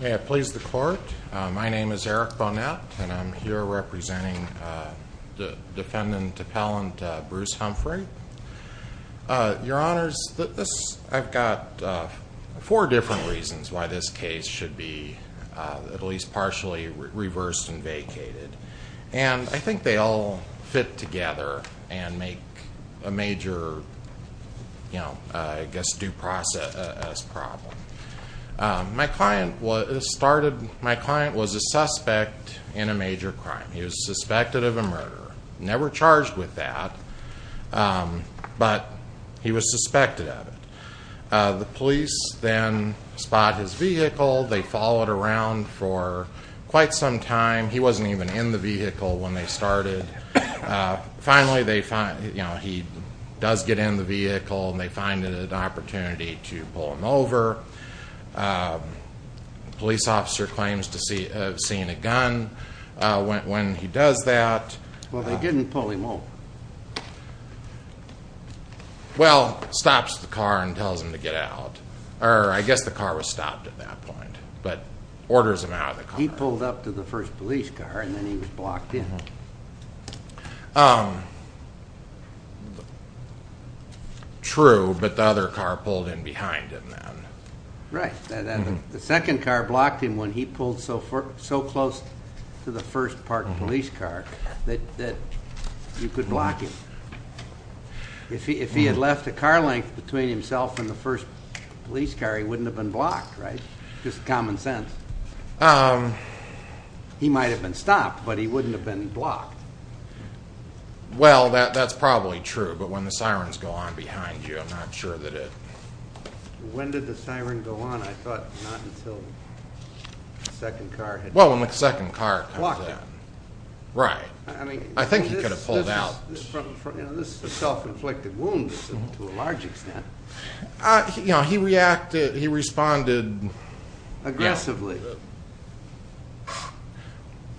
May it please the Court, my name is Eric Bonette and I'm here representing defendant appellant Bruce Humphrey. Your Honors, I've got four different reasons why this case should be at least partially reversed and vacated. And I think they all fit together and make a major, you know, I guess due process problem. My client was a suspect in a major crime. He was suspected of a murder. Never charged with that, but he was suspected of it. The police then spot his vehicle. They follow it around for quite some time. He wasn't even in the vehicle when they started. Finally, they find, you know, he does get in the vehicle and they find an opportunity to pull him over. Police officer claims to have seen a gun when he does that. Well, they didn't pull him over. Well, stops the car and tells him to get out, or I guess the car was stopped at that point, but orders him out of the car. He pulled up to the first police car and then he was blocked in. True, but the other car pulled in behind him then. Right. The second car blocked him when he pulled so close to the first parked police car that you could block him. If he had left a car length between himself and the first police car, he wouldn't have been blocked, right? Just common sense. He might have been stopped, but he wouldn't have been blocked. Well, that's probably true, but when the sirens go on behind you, I'm not sure that it... When did the siren go on? I thought not until the second car had... Well, when the second car... Blocked him. Right. I mean... I think he could have pulled out. This is a self-inflicted wound to a large extent. You know, he reacted, he responded... Aggressively.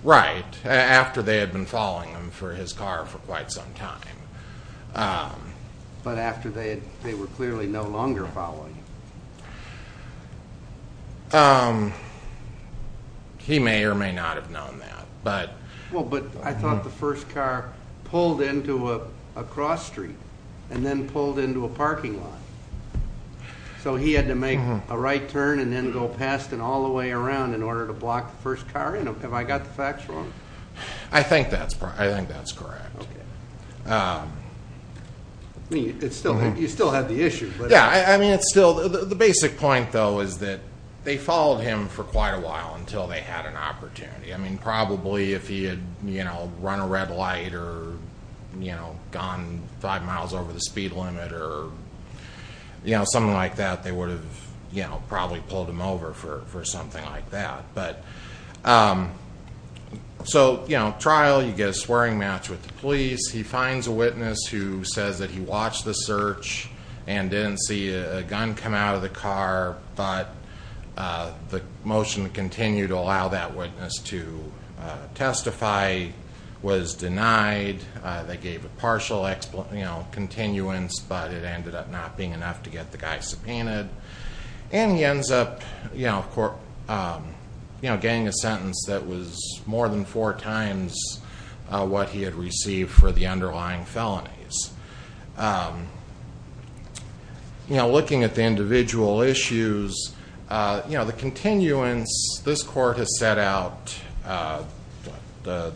Right. After they had been following him for his car for quite some time. But after they were clearly no longer following him. He may or may not have known that, but... Well, but I thought the first car pulled into a cross street and then pulled into a parking lot. So he had to make a right turn and then go past and all the way around in order to block the first car? Have I got the facts wrong? I think that's correct. Okay. I mean, you still had the issue, but... Yeah, I mean, it's still... The basic point, though, is that they followed him for quite a while until they had an opportunity. I mean, probably if he had run a red light or gone five miles over the speed limit or something like that, they would have probably pulled him over for something like that. So, you know, trial, you get a swearing match with the police. He finds a witness who says that he watched the search and didn't see a gun come out of the car, but the motion to continue to allow that witness to testify was denied. They gave a partial continuance, but it ended up not being enough to get the guy subpoenaed. And he ends up getting a sentence that was more than four times what he had received for the underlying felonies. Looking at the individual issues, the continuance, this court has set out the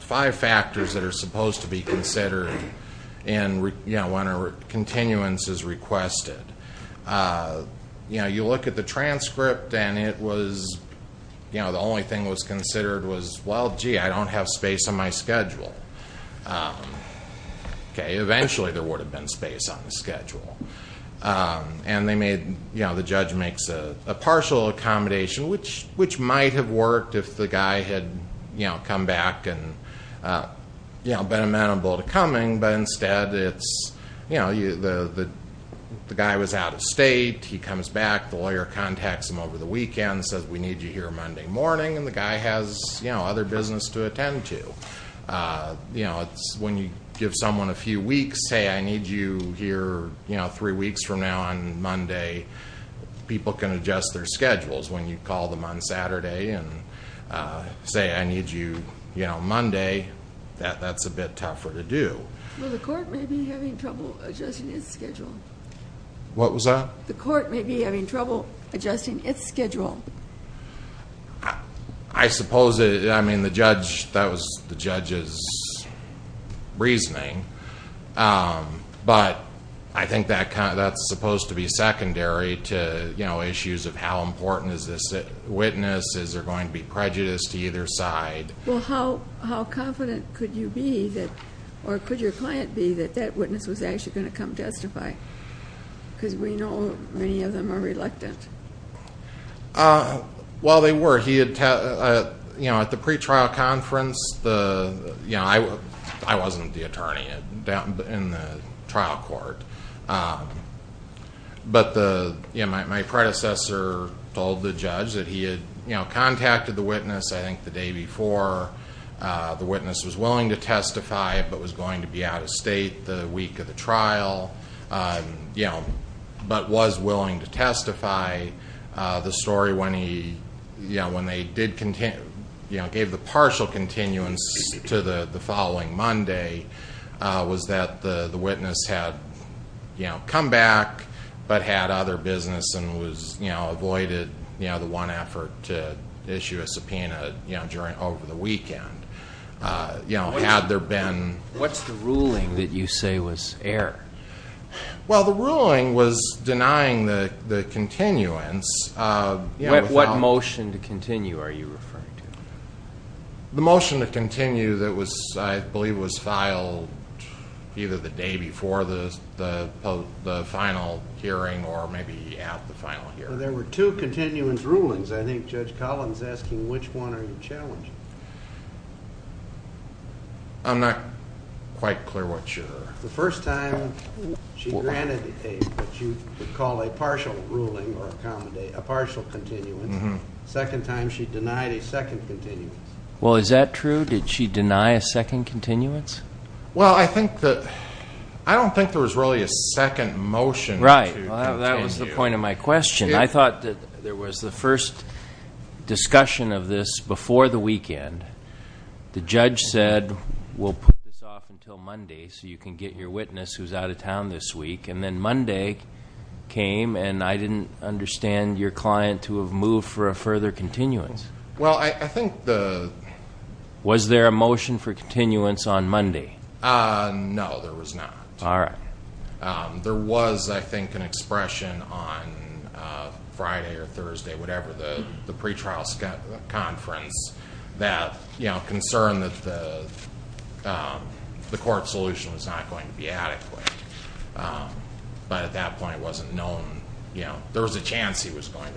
five factors that are supposed to be considered when a continuance is requested. You know, you look at the transcript and it was, you know, the only thing that was considered was, well, gee, I don't have space on my schedule. Okay, eventually there would have been space on the schedule. And they made, you know, the judge makes a partial accommodation, which might have worked if the guy had, you know, come back and, you know, been amenable to coming, but instead it's, you know, the guy was out of state, he comes back, the lawyer contacts him over the weekend, says, we need you here Monday morning, and the guy has, you know, other business to attend to. You know, when you give someone a few weeks, say, I need you here, you know, three weeks from now on Monday, people can adjust their schedules. When you call them on Saturday and say, I need you, you know, Monday, that's a bit tougher to do. Well, the court may be having trouble adjusting its schedule. What was that? The court may be having trouble adjusting its schedule. I suppose it, I mean, the judge, that was the judge's reasoning, but I think that's supposed to be secondary to, you know, issues of how important is this witness, is there going to be prejudice to either side. Well, how confident could you be, or could your client be, that that witness was actually going to come justify? Because we know many of them are reluctant. Well, they were. He had, you know, at the pretrial conference, you know, I wasn't the attorney in the trial court, but the, you know, my predecessor told the judge that he had, you know, contacted the witness, I think, the day before. The witness was willing to testify, but was going to be out of state the week of the trial. You know, but was willing to testify. The story when he, you know, when they did, you know, gave the partial continuance to the following Monday was that the witness had, you know, come back, but had other business, and was, you know, avoided, you know, the one effort to issue a subpoena, you know, over the weekend. You know, had there been. What's the ruling that you say was error? Well, the ruling was denying the continuance. What motion to continue are you referring to? The motion to continue that was, I believe, was filed either the day before the final hearing or maybe at the final hearing. There were two continuance rulings. I think Judge Collins is asking which one are you challenging? I'm not quite clear what your. The first time she granted a, what you would call a partial ruling or a partial continuance. Second time she denied a second continuance. Well, is that true? Did she deny a second continuance? Well, I think that, I don't think there was really a second motion to continue. Right. Well, that was the point of my question. I thought that there was the first discussion of this before the weekend. The judge said, we'll put this off until Monday so you can get your witness who's out of town this week. And then Monday came and I didn't understand your client to have moved for a further continuance. Well, I think the. Was there a motion for continuance on Monday? No, there was not. All right. There was, I think, an expression on Friday or Thursday, whatever, the pretrial conference that concerned that the court solution was not going to be adequate. But at that point it wasn't known. There was a chance that it was going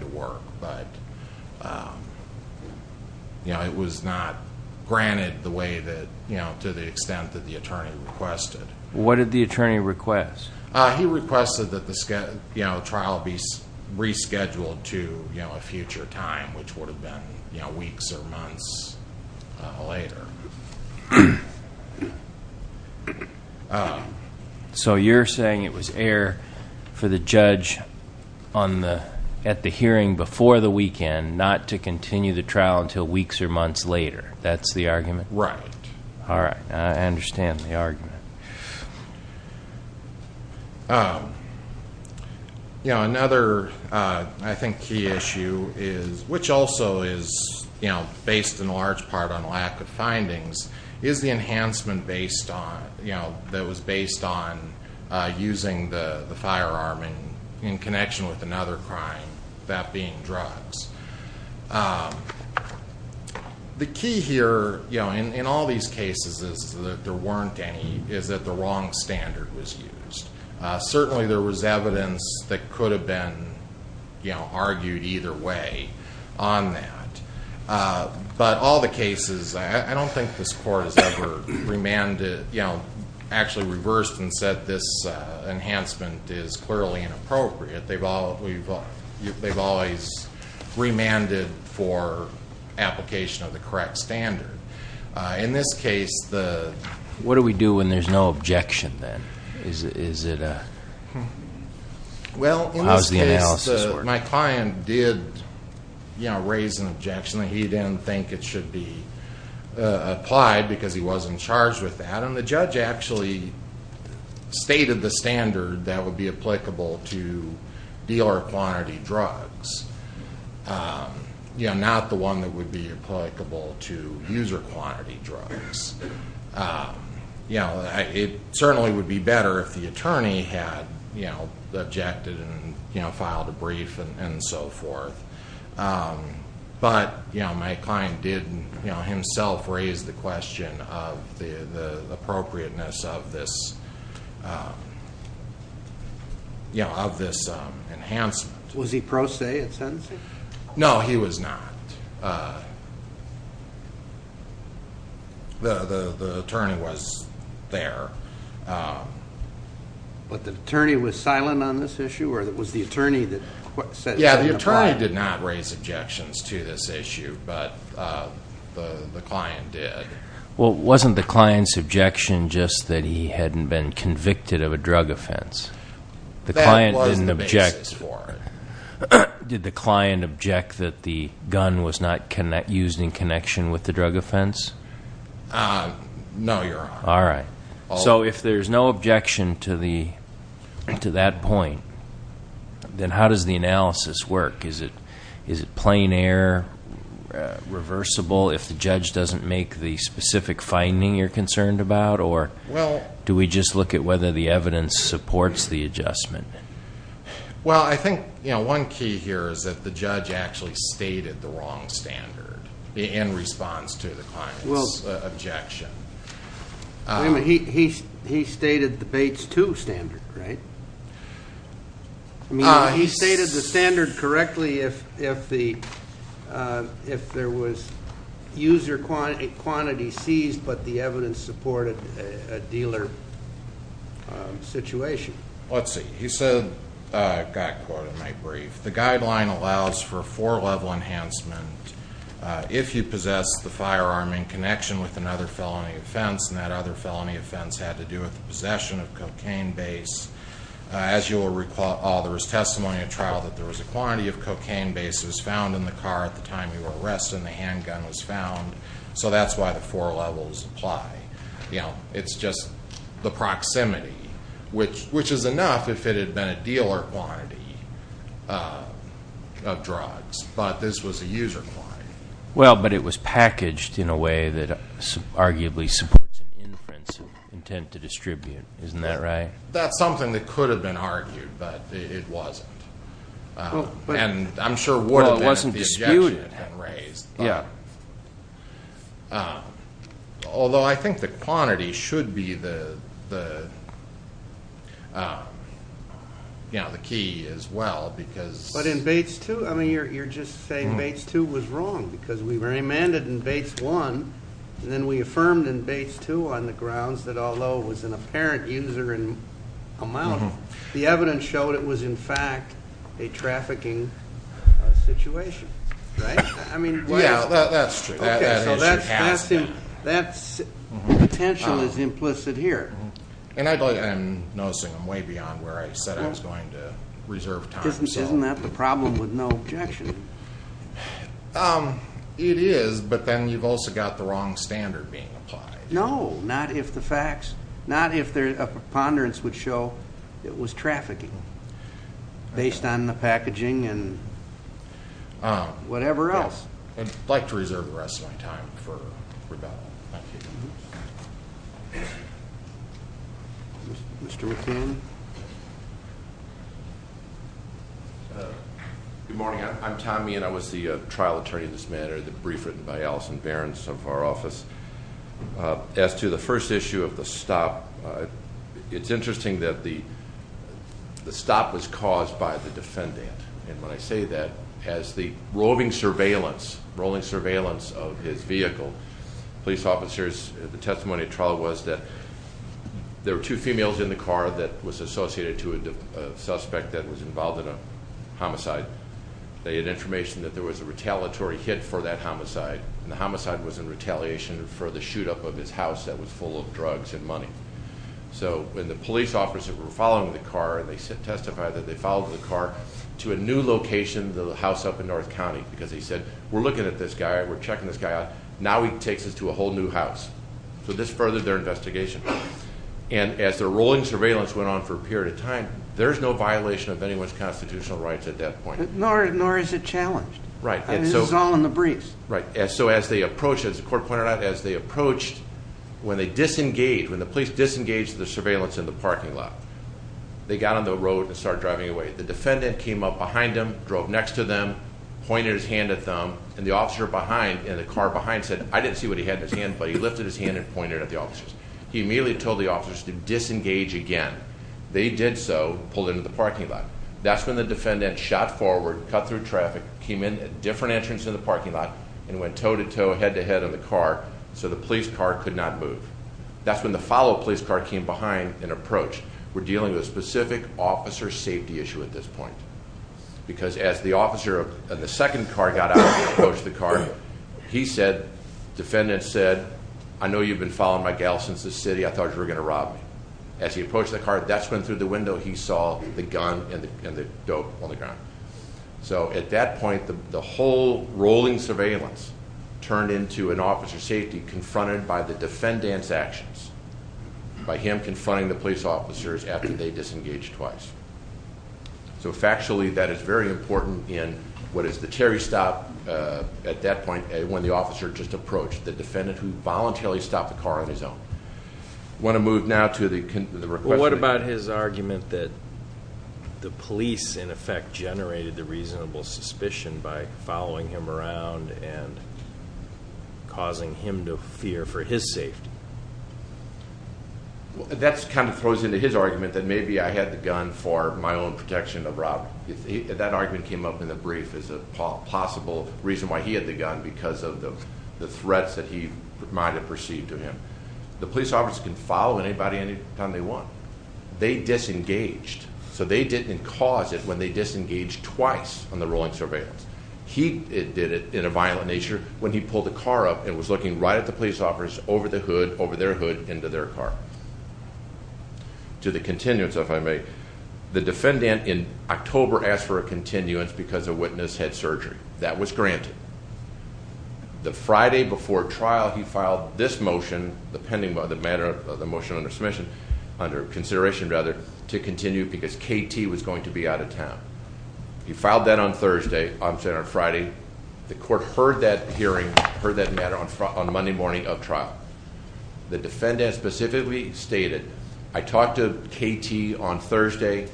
to work, but it was not granted the way that, to the extent that the attorney requested. What did the attorney request? He requested that the trial be rescheduled to a future time, which would have been weeks or months later. So you're saying it was air for the judge at the hearing before the weekend not to continue the trial until weeks or months later. That's the argument? Right. I understand the argument. Another, I think, key issue is, which also is based in large part on lack of findings, is the enhancement that was based on using the firearm in connection with another crime, that being drugs. The key here in all these cases is that there weren't any, is that the wrong standard was used. Certainly there was evidence that could have been argued either way on that. But all the cases, I don't think this court has ever actually reversed and said this enhancement is clearly inappropriate. They've always remanded for application of the correct standard. In this case, the... What do we do when there's no objection then? Is it a... Well, in this case, my client did raise an objection that he didn't think it should be applied because he wasn't charged with that. The judge actually stated the standard that would be applicable to dealer quantity drugs, not the one that would be applicable to user quantity drugs. It certainly would be better if the attorney had objected and filed a brief and so forth. But my client did himself raise the question of the appropriateness of this enhancement. Was he pro se at sentencing? No, he was not. The attorney was there. But the attorney was silent on this issue, or was the attorney that said... Yeah, the attorney did not raise objections to this issue, but the client did. Well, wasn't the client's objection just that he hadn't been convicted of a drug offense? That was the basis for it. Did the client object that the gun was not used in connection with the drug offense? No, Your Honor. All right. So, if there's no objection to that point, then how does the analysis work? Is it plain error, reversible if the judge doesn't make the specific finding you're concerned about? Or do we just look at whether the evidence supports the adjustment? Well, I think one key here is that the judge actually stated the wrong standard in response to the client's objection. Wait a minute. He stated the Bates II standard, right? He stated the standard correctly if there was user quantity seized, but the evidence supported a dealer situation. Let's see. He said, I've got a quote in my brief, The guideline allows for four-level enhancement if you possess the firearm in connection with another felony offense, and that other felony offense had to do with the possession of cocaine base. As you will recall, there was testimony at trial that there was a quantity of cocaine base that was found in the car at the time you were arrested, and the handgun was found. So that's why the four levels apply. It's just the proximity, which is enough if it had been a dealer quantity of drugs, but this was a user quantity. Well, but it was packaged in a way that arguably supports an inference intent to distribute. Isn't that right? That's something that could have been argued, but it wasn't, and I'm sure would have been if the objection had been raised. Yeah. Although I think the quantity should be the key as well, because. But in Bates 2, I mean, you're just saying Bates 2 was wrong, because we remanded in Bates 1, and then we affirmed in Bates 2 on the grounds that although it was an apparent user amount, the evidence showed it was, in fact, a trafficking situation, right? Yeah, that's true. Okay, so that potential is implicit here. And I believe I'm noticing them way beyond where I said I was going to reserve time. Isn't that the problem with no objection? It is, but then you've also got the wrong standard being applied. No, not if the facts, not if a preponderance would show it was trafficking based on the packaging and whatever else. I'd like to reserve the rest of my time for rebuttal. Mr. McCain? Good morning. I'm Tom Meehan. I was the trial attorney in this matter, the brief written by Allison Behrens of our office. As to the first issue of the stop, it's interesting that the stop was caused by the defendant. And when I say that, as the roving surveillance, rolling surveillance of his vehicle, police officers, the testimony at trial was that there were two females in the car that was associated to a suspect that was involved in a homicide. They had information that there was a retaliatory hit for that homicide, and the homicide was in retaliation for the shoot-up of his house that was full of drugs and money. So when the police officers were following the car, they testified that they followed the car to a new location, the house up in North County, because they said, we're looking at this guy, we're checking this guy out. Now he takes us to a whole new house. So this furthered their investigation. And as the rolling surveillance went on for a period of time, there's no violation of anyone's constitutional rights at that point. Nor is it challenged. Right. This is all in the briefs. Right. So as they approached, as the court pointed out, as they approached, when they disengaged, when the police disengaged the surveillance in the parking lot, they got on the road and started driving away. The defendant came up behind them, drove next to them, pointed his hand at them, and the officer behind in the car behind said, I didn't see what he had in his hand, but he lifted his hand and pointed at the officers. He immediately told the officers to disengage again. They did so, pulled into the parking lot. That's when the defendant shot forward, cut through traffic, came in at a different entrance in the parking lot, and went toe-to-toe, head-to-head in the car, so the police car could not move. That's when the follow-up police car came behind and approached. We're dealing with a specific officer safety issue at this point. Because as the officer in the second car got out and approached the car, he said, defendant said, I know you've been following my gal since this city. I thought you were going to rob me. As he approached the car, that's when through the window he saw the gun and the dope on the ground. So at that point, the whole rolling surveillance turned into an officer safety confronted by the defendant's actions, by him confronting the police officers after they disengaged twice. So factually, that is very important in what is the Terry stop at that point when the officer just approached, the defendant who voluntarily stopped the car on his own. I want to move now to the request. What about his argument that the police, in effect, generated the reasonable suspicion by following him around and causing him to fear for his safety? That kind of throws into his argument that maybe I had the gun for my own protection of Rob. That argument came up in the brief as a possible reason why he had the gun, because of the threats that he might have perceived of him. The police officers can follow anybody anytime they want. They disengaged, so they didn't cause it when they disengaged twice on the rolling surveillance. He did it in a violent nature when he pulled the car up and was looking right at the police officers over the hood, over their hood, into their car. To the continuance, if I may. The defendant in October asked for a continuance because a witness had surgery. That was granted. The Friday before trial, he filed this motion, the motion under consideration to continue because KT was going to be out of town. He filed that on Thursday, on Saturday or Friday. The court heard that hearing, heard that matter on Monday morning of trial. The defendant specifically stated, I talked to KT on Thursday,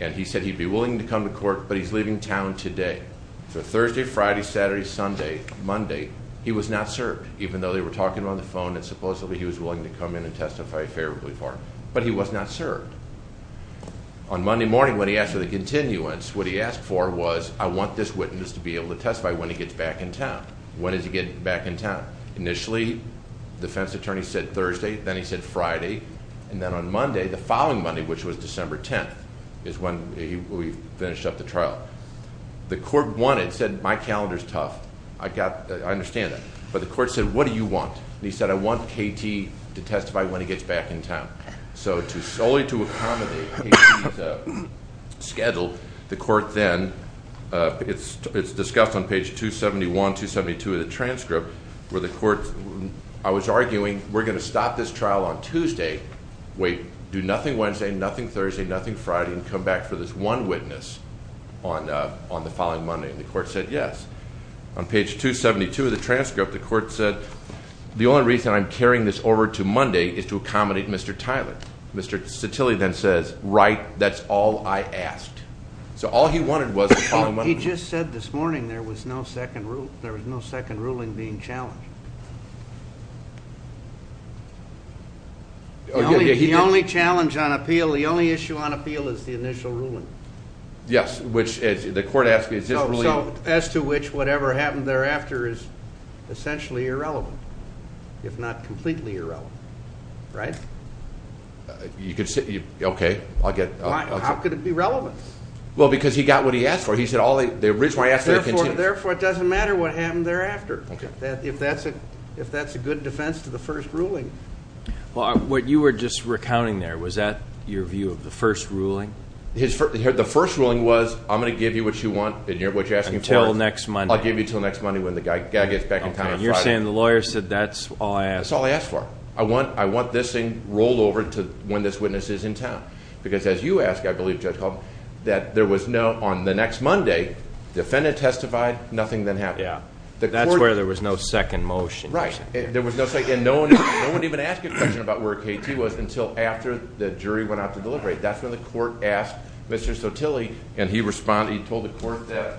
and he said he'd be willing to come to court, but he's leaving town today. So Thursday, Friday, Saturday, Sunday, Monday, he was not served, even though they were talking on the phone, and supposedly he was willing to come in and testify favorably for him. But he was not served. On Monday morning, when he asked for the continuance, what he asked for was, I want this witness to be able to testify when he gets back in town. When did he get back in town? Initially, the defense attorney said Thursday, then he said Friday, and then on Monday, the following Monday, which was December 10th, is when we finished up the trial. The court wanted, said, my calendar's tough. I understand that. But the court said, what do you want? He said, I want KT to testify when he gets back in town. So solely to accommodate KT's schedule, the court then, it's discussed on page 271, 272 of the transcript, where the court, I was arguing, we're going to stop this trial on Tuesday, wait, do nothing Wednesday, nothing Thursday, nothing Friday, and come back for this one witness on the following Monday. And the court said yes. On page 272 of the transcript, the court said, the only reason I'm carrying this over to Monday is to accommodate Mr. Tyler. Mr. Cetilli then says, right, that's all I asked. So all he wanted was the following Monday. He just said this morning there was no second ruling being challenged. The only challenge on appeal, the only issue on appeal is the initial ruling. Yes, which the court asked is this ruling. So as to which whatever happened thereafter is essentially irrelevant, if not completely irrelevant, right? Okay. How could it be relevant? Well, because he got what he asked for. He said the original answer continues. Therefore, it doesn't matter what happened thereafter. Okay. If that's a good defense to the first ruling. Well, what you were just recounting there, was that your view of the first ruling? The first ruling was I'm going to give you what you want and what you're asking for. Until next Monday. I'll give you until next Monday when the guy gets back in town on Friday. You're saying the lawyer said that's all I asked. That's all I asked for. I want this thing rolled over to when this witness is in town. Because as you asked, I believe, Judge Caldwell, that there was no on the next Monday, defendant testified, nothing then happened. That's where there was no second motion. Right. There was no second. No one even asked a question about where KT was until after the jury went out to deliberate. That's when the court asked Mr. Sotilli, and he responded. He told the court that,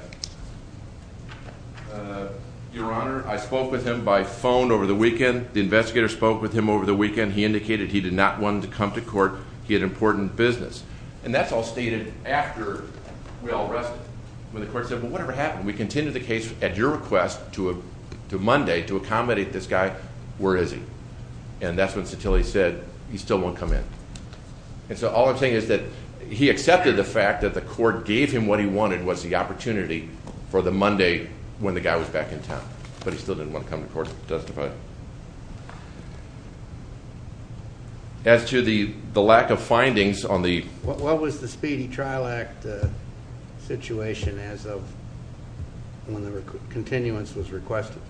Your Honor, I spoke with him by phone over the weekend. The investigator spoke with him over the weekend. He indicated he did not want him to come to court. He had important business. And that's all stated after we all rested. When the court said, well, whatever happened. We continue the case at your request to Monday to accommodate this guy. Where is he? And that's when Sotilli said he still won't come in. And so all I'm saying is that he accepted the fact that the court gave him what he wanted was the opportunity for the Monday when the guy was back in town. But he still didn't want to come to court to testify. As to the lack of findings on the- situation as of when the continuance was requested.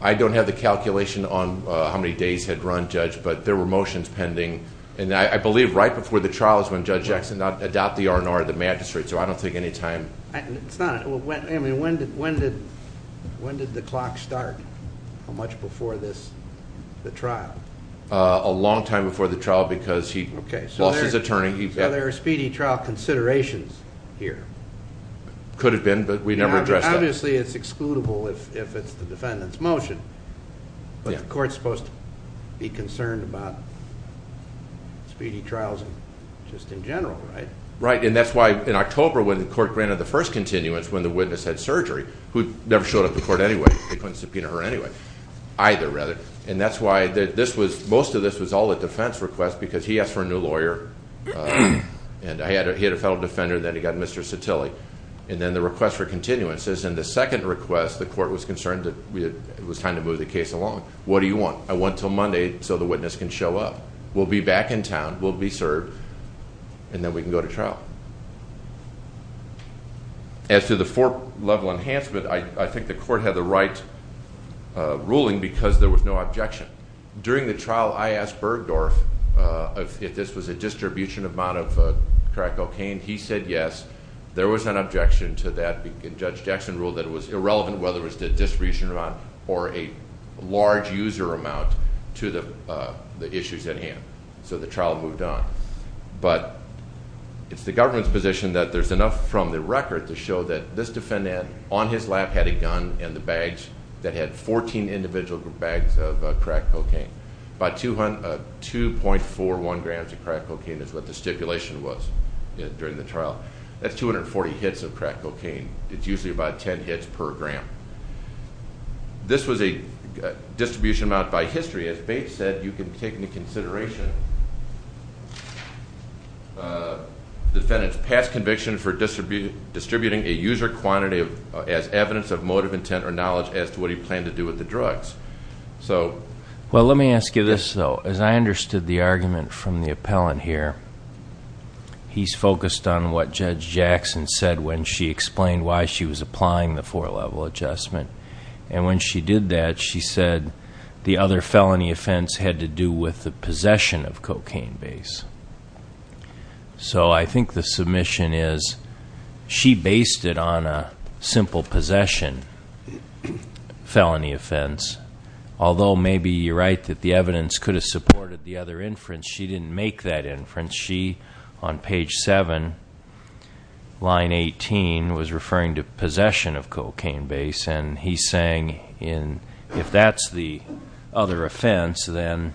I don't have the calculation on how many days had run, Judge, but there were motions pending. And I believe right before the trial is when Judge Jackson adopted the R&R of the magistrate. So I don't think any time- When did the clock start? How much before the trial? A long time before the trial because he lost his attorney. So there are speedy trial considerations here. Could have been, but we never addressed that. Obviously, it's excludable if it's the defendant's motion. But the court's supposed to be concerned about speedy trials just in general, right? Right, and that's why in October when the court granted the first continuance, when the witness had surgery, who never showed up to court anyway. They couldn't subpoena her anyway. Either, rather. And that's why most of this was all a defense request because he asked for a new lawyer and he had a fellow defender, and then he got Mr. Satilli. And then the request for continuances, and the second request, the court was concerned that it was time to move the case along. What do you want? I want until Monday so the witness can show up. We'll be back in town, we'll be served, and then we can go to trial. As to the four-level enhancement, I think the court had the right ruling because there was no objection. During the trial, I asked Bergdorf if this was a distribution amount of crack cocaine. He said yes. There was an objection to that. Judge Jackson ruled that it was irrelevant whether it was a distribution amount or a large user amount to the issues at hand. So the trial moved on. But it's the government's position that there's enough from the record to show that this defendant on his lap had a gun and the bags that had 14 individual bags of crack cocaine. About 2.41 grams of crack cocaine is what the stipulation was during the trial. That's 240 hits of crack cocaine. It's usually about 10 hits per gram. This was a distribution amount by history. As Bates said, you can take into consideration the defendant's past conviction for distributing a user quantity as evidence of motive, intent, or knowledge as to what he planned to do with the drugs. Well, let me ask you this, though. As I understood the argument from the appellant here, he's focused on what Judge Jackson said when she explained why she was applying the four-level adjustment. And when she did that, she said the other felony offense had to do with the possession of cocaine base. So I think the submission is she based it on a simple possession felony offense, although maybe you're right that the evidence could have supported the other inference. She didn't make that inference. She, on page 7, line 18, was referring to possession of cocaine base, and he's saying if that's the other offense, then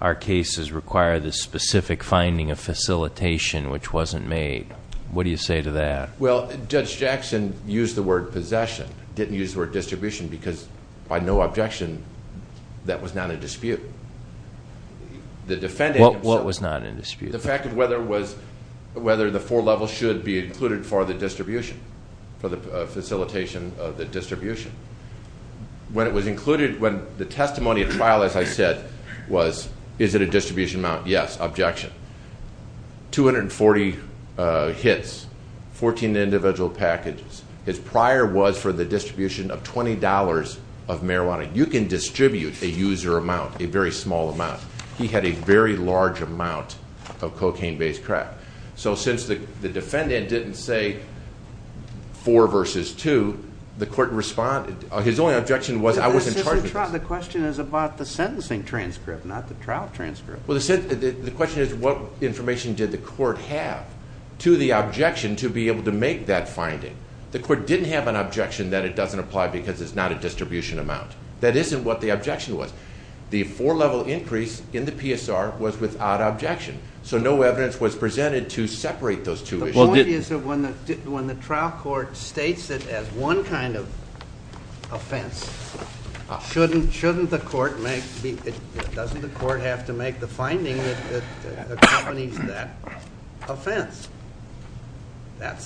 our cases require the specific finding of facilitation, which wasn't made. What do you say to that? Well, Judge Jackson used the word possession, didn't use the word distribution, because by no objection, that was not a dispute. What was not in dispute? The fact of whether the four levels should be included for the distribution, for the facilitation of the distribution. When it was included, when the testimony at trial, as I said, was, is it a distribution amount? Yes. Objection. 240 hits, 14 individual packages. His prior was for the distribution of $20 of marijuana. You can distribute a user amount, a very small amount. He had a very large amount of cocaine base crack. So since the defendant didn't say four versus two, the court responded, his only objection was I was in charge of this. The question is about the sentencing transcript, not the trial transcript. Well, the question is what information did the court have to the objection to be able to make that finding. The court didn't have an objection that it doesn't apply because it's not a distribution amount. That isn't what the objection was. The four-level increase in the PSR was without objection, so no evidence was presented to separate those two issues. The point is that when the trial court states it as one kind of offense, shouldn't the court make the – doesn't the court have to make the finding that accompanies that offense? I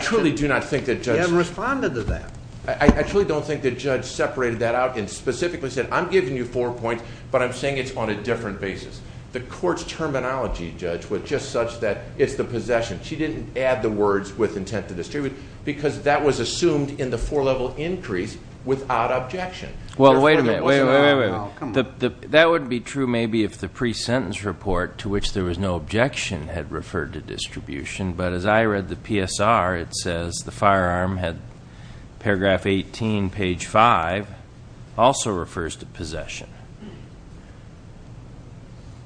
truly do not think that judge – He hadn't responded to that. I truly don't think that judge separated that out and specifically said, I'm giving you four points, but I'm saying it's on a different basis. The court's terminology, judge, was just such that it's the possession. She didn't add the words with intent to distribute because that was assumed in the four-level increase without objection. Well, wait a minute. That wouldn't be true maybe if the pre-sentence report, to which there was no objection, had referred to distribution, but as I read the PSR, it says the firearm had paragraph 18, page 5, also refers to possession.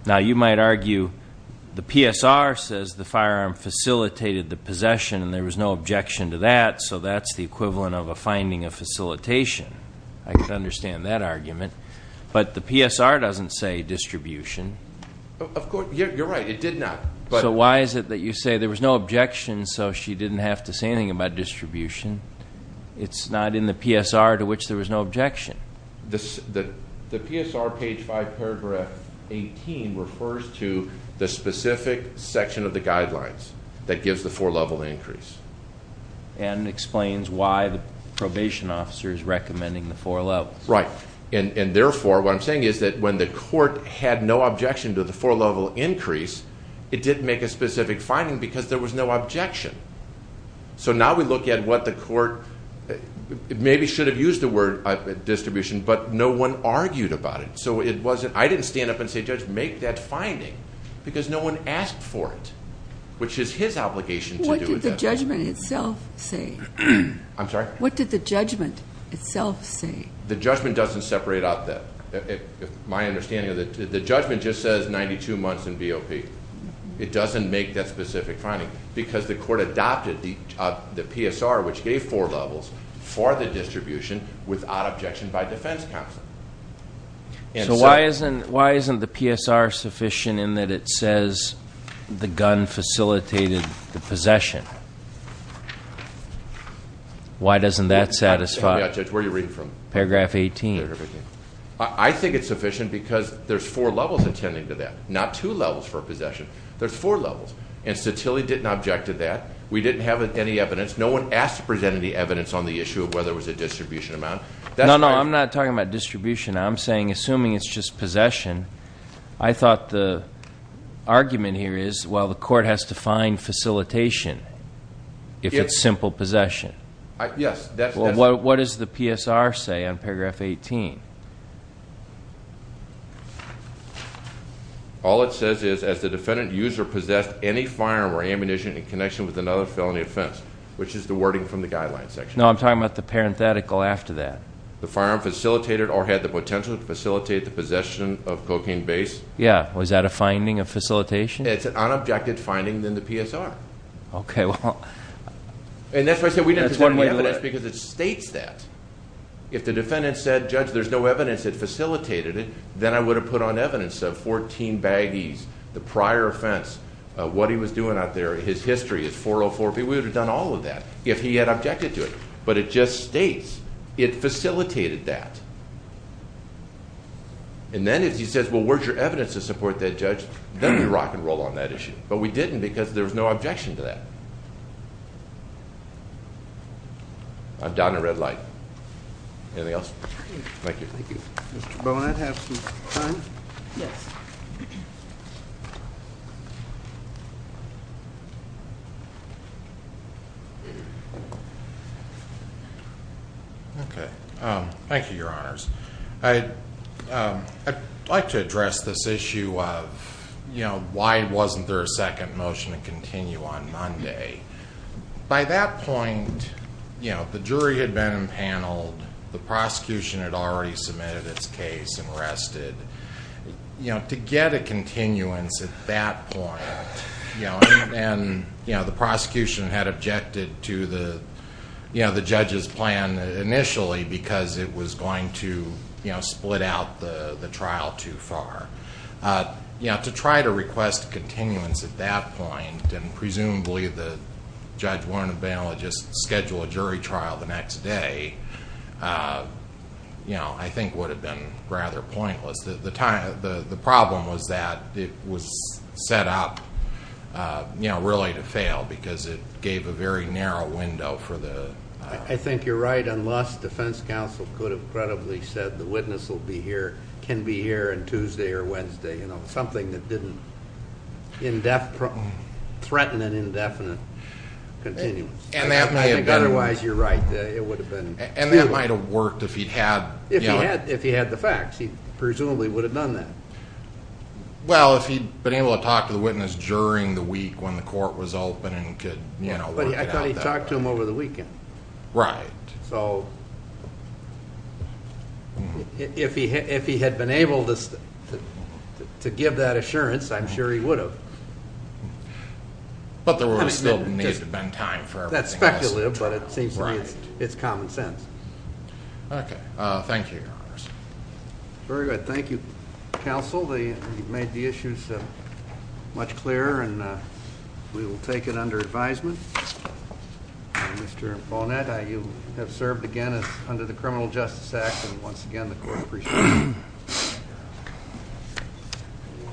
Now, you might argue the PSR says the firearm facilitated the possession and there was no objection to that, so that's the equivalent of a finding of facilitation. I can understand that argument. But the PSR doesn't say distribution. You're right. It did not. So why is it that you say there was no objection so she didn't have to say anything about distribution? It's not in the PSR to which there was no objection. The PSR, page 5, paragraph 18, refers to the specific section of the guidelines that gives the four-level increase. And explains why the probation officer is recommending the four levels. Right. And therefore, what I'm saying is that when the court had no objection to the four-level increase, it didn't make a specific finding because there was no objection. So now we look at what the court maybe should have used the word distribution, but no one argued about it. So I didn't stand up and say, Judge, make that finding, because no one asked for it, which is his obligation to do it. What did the judgment itself say? I'm sorry? What did the judgment itself say? The judgment doesn't separate out that. My understanding of it, the judgment just says 92 months in BOP. It doesn't make that specific finding because the court adopted the PSR, which gave four levels, for the distribution without objection by defense counsel. So why isn't the PSR sufficient in that it says the gun facilitated the possession? Why doesn't that satisfy paragraph 18? I think it's sufficient because there's four levels attending to that, not two levels for possession. There's four levels. And Satili didn't object to that. We didn't have any evidence. No one asked to present any evidence on the issue of whether it was a distribution amount. No, no, I'm not talking about distribution. I'm saying, assuming it's just possession, I thought the argument here is, well, the court has to find facilitation if it's simple possession. Yes. Well, what does the PSR say on paragraph 18? All it says is, as the defendant used or possessed any firearm or ammunition in connection with another felony offense, which is the wording from the guidelines section. No, I'm talking about the parenthetical after that. The firearm facilitated or had the potential to facilitate the possession of cocaine base. Yes. Was that a finding of facilitation? It's an unobjected finding in the PSR. Okay. And that's why I said we didn't present any evidence because it states that. If the defendant said, Judge, there's no evidence that facilitated it, then I would have put on evidence of 14 baggies, the prior offense, what he was doing out there. His history is 404. We would have done all of that if he had objected to it. But it just states it facilitated that. And then if he says, well, where's your evidence to support that, Judge? Then we rock and roll on that issue. But we didn't because there was no objection to that. I'm down in red light. Anything else? Thank you. Thank you. Mr. Bowen, I'd have some time. Yes. Okay. Thank you, Your Honors. I'd like to address this issue of why wasn't there a second motion to continue on Monday? By that point, the jury had been impaneled. The prosecution had already submitted its case and rested. To get a continuance at that point, and the prosecution had objected to the judge's plan initially because it was going to split out the trial too far. To try to request continuance at that point, and presumably the judge wouldn't have been able to just schedule a jury trial the next day, I think would have been rather pointless. The problem was that it was set up really to fail because it gave a very narrow window for the... I think you're right. Unless defense counsel could have credibly said the witness can be here on Tuesday or Wednesday, something that didn't threaten an indefinite continuance. Otherwise, you're right. It would have been... That might have worked if he'd had... If he had the facts, he presumably would have done that. Well, if he'd been able to talk to the witness during the week when the court was open and could work it out. I thought he talked to him over the weekend. Right. If he had been able to give that assurance, I'm sure he would have. But there still needs to have been time for everything else to turn around. That's speculative, but it seems to me it's common sense. Okay. Thank you, Your Honor. Very good. Thank you, counsel. You've made the issues much clearer, and we will take it under advisement. Mr. Bonnet, you have served again under the Criminal Justice Act, and once again the court appreciates you.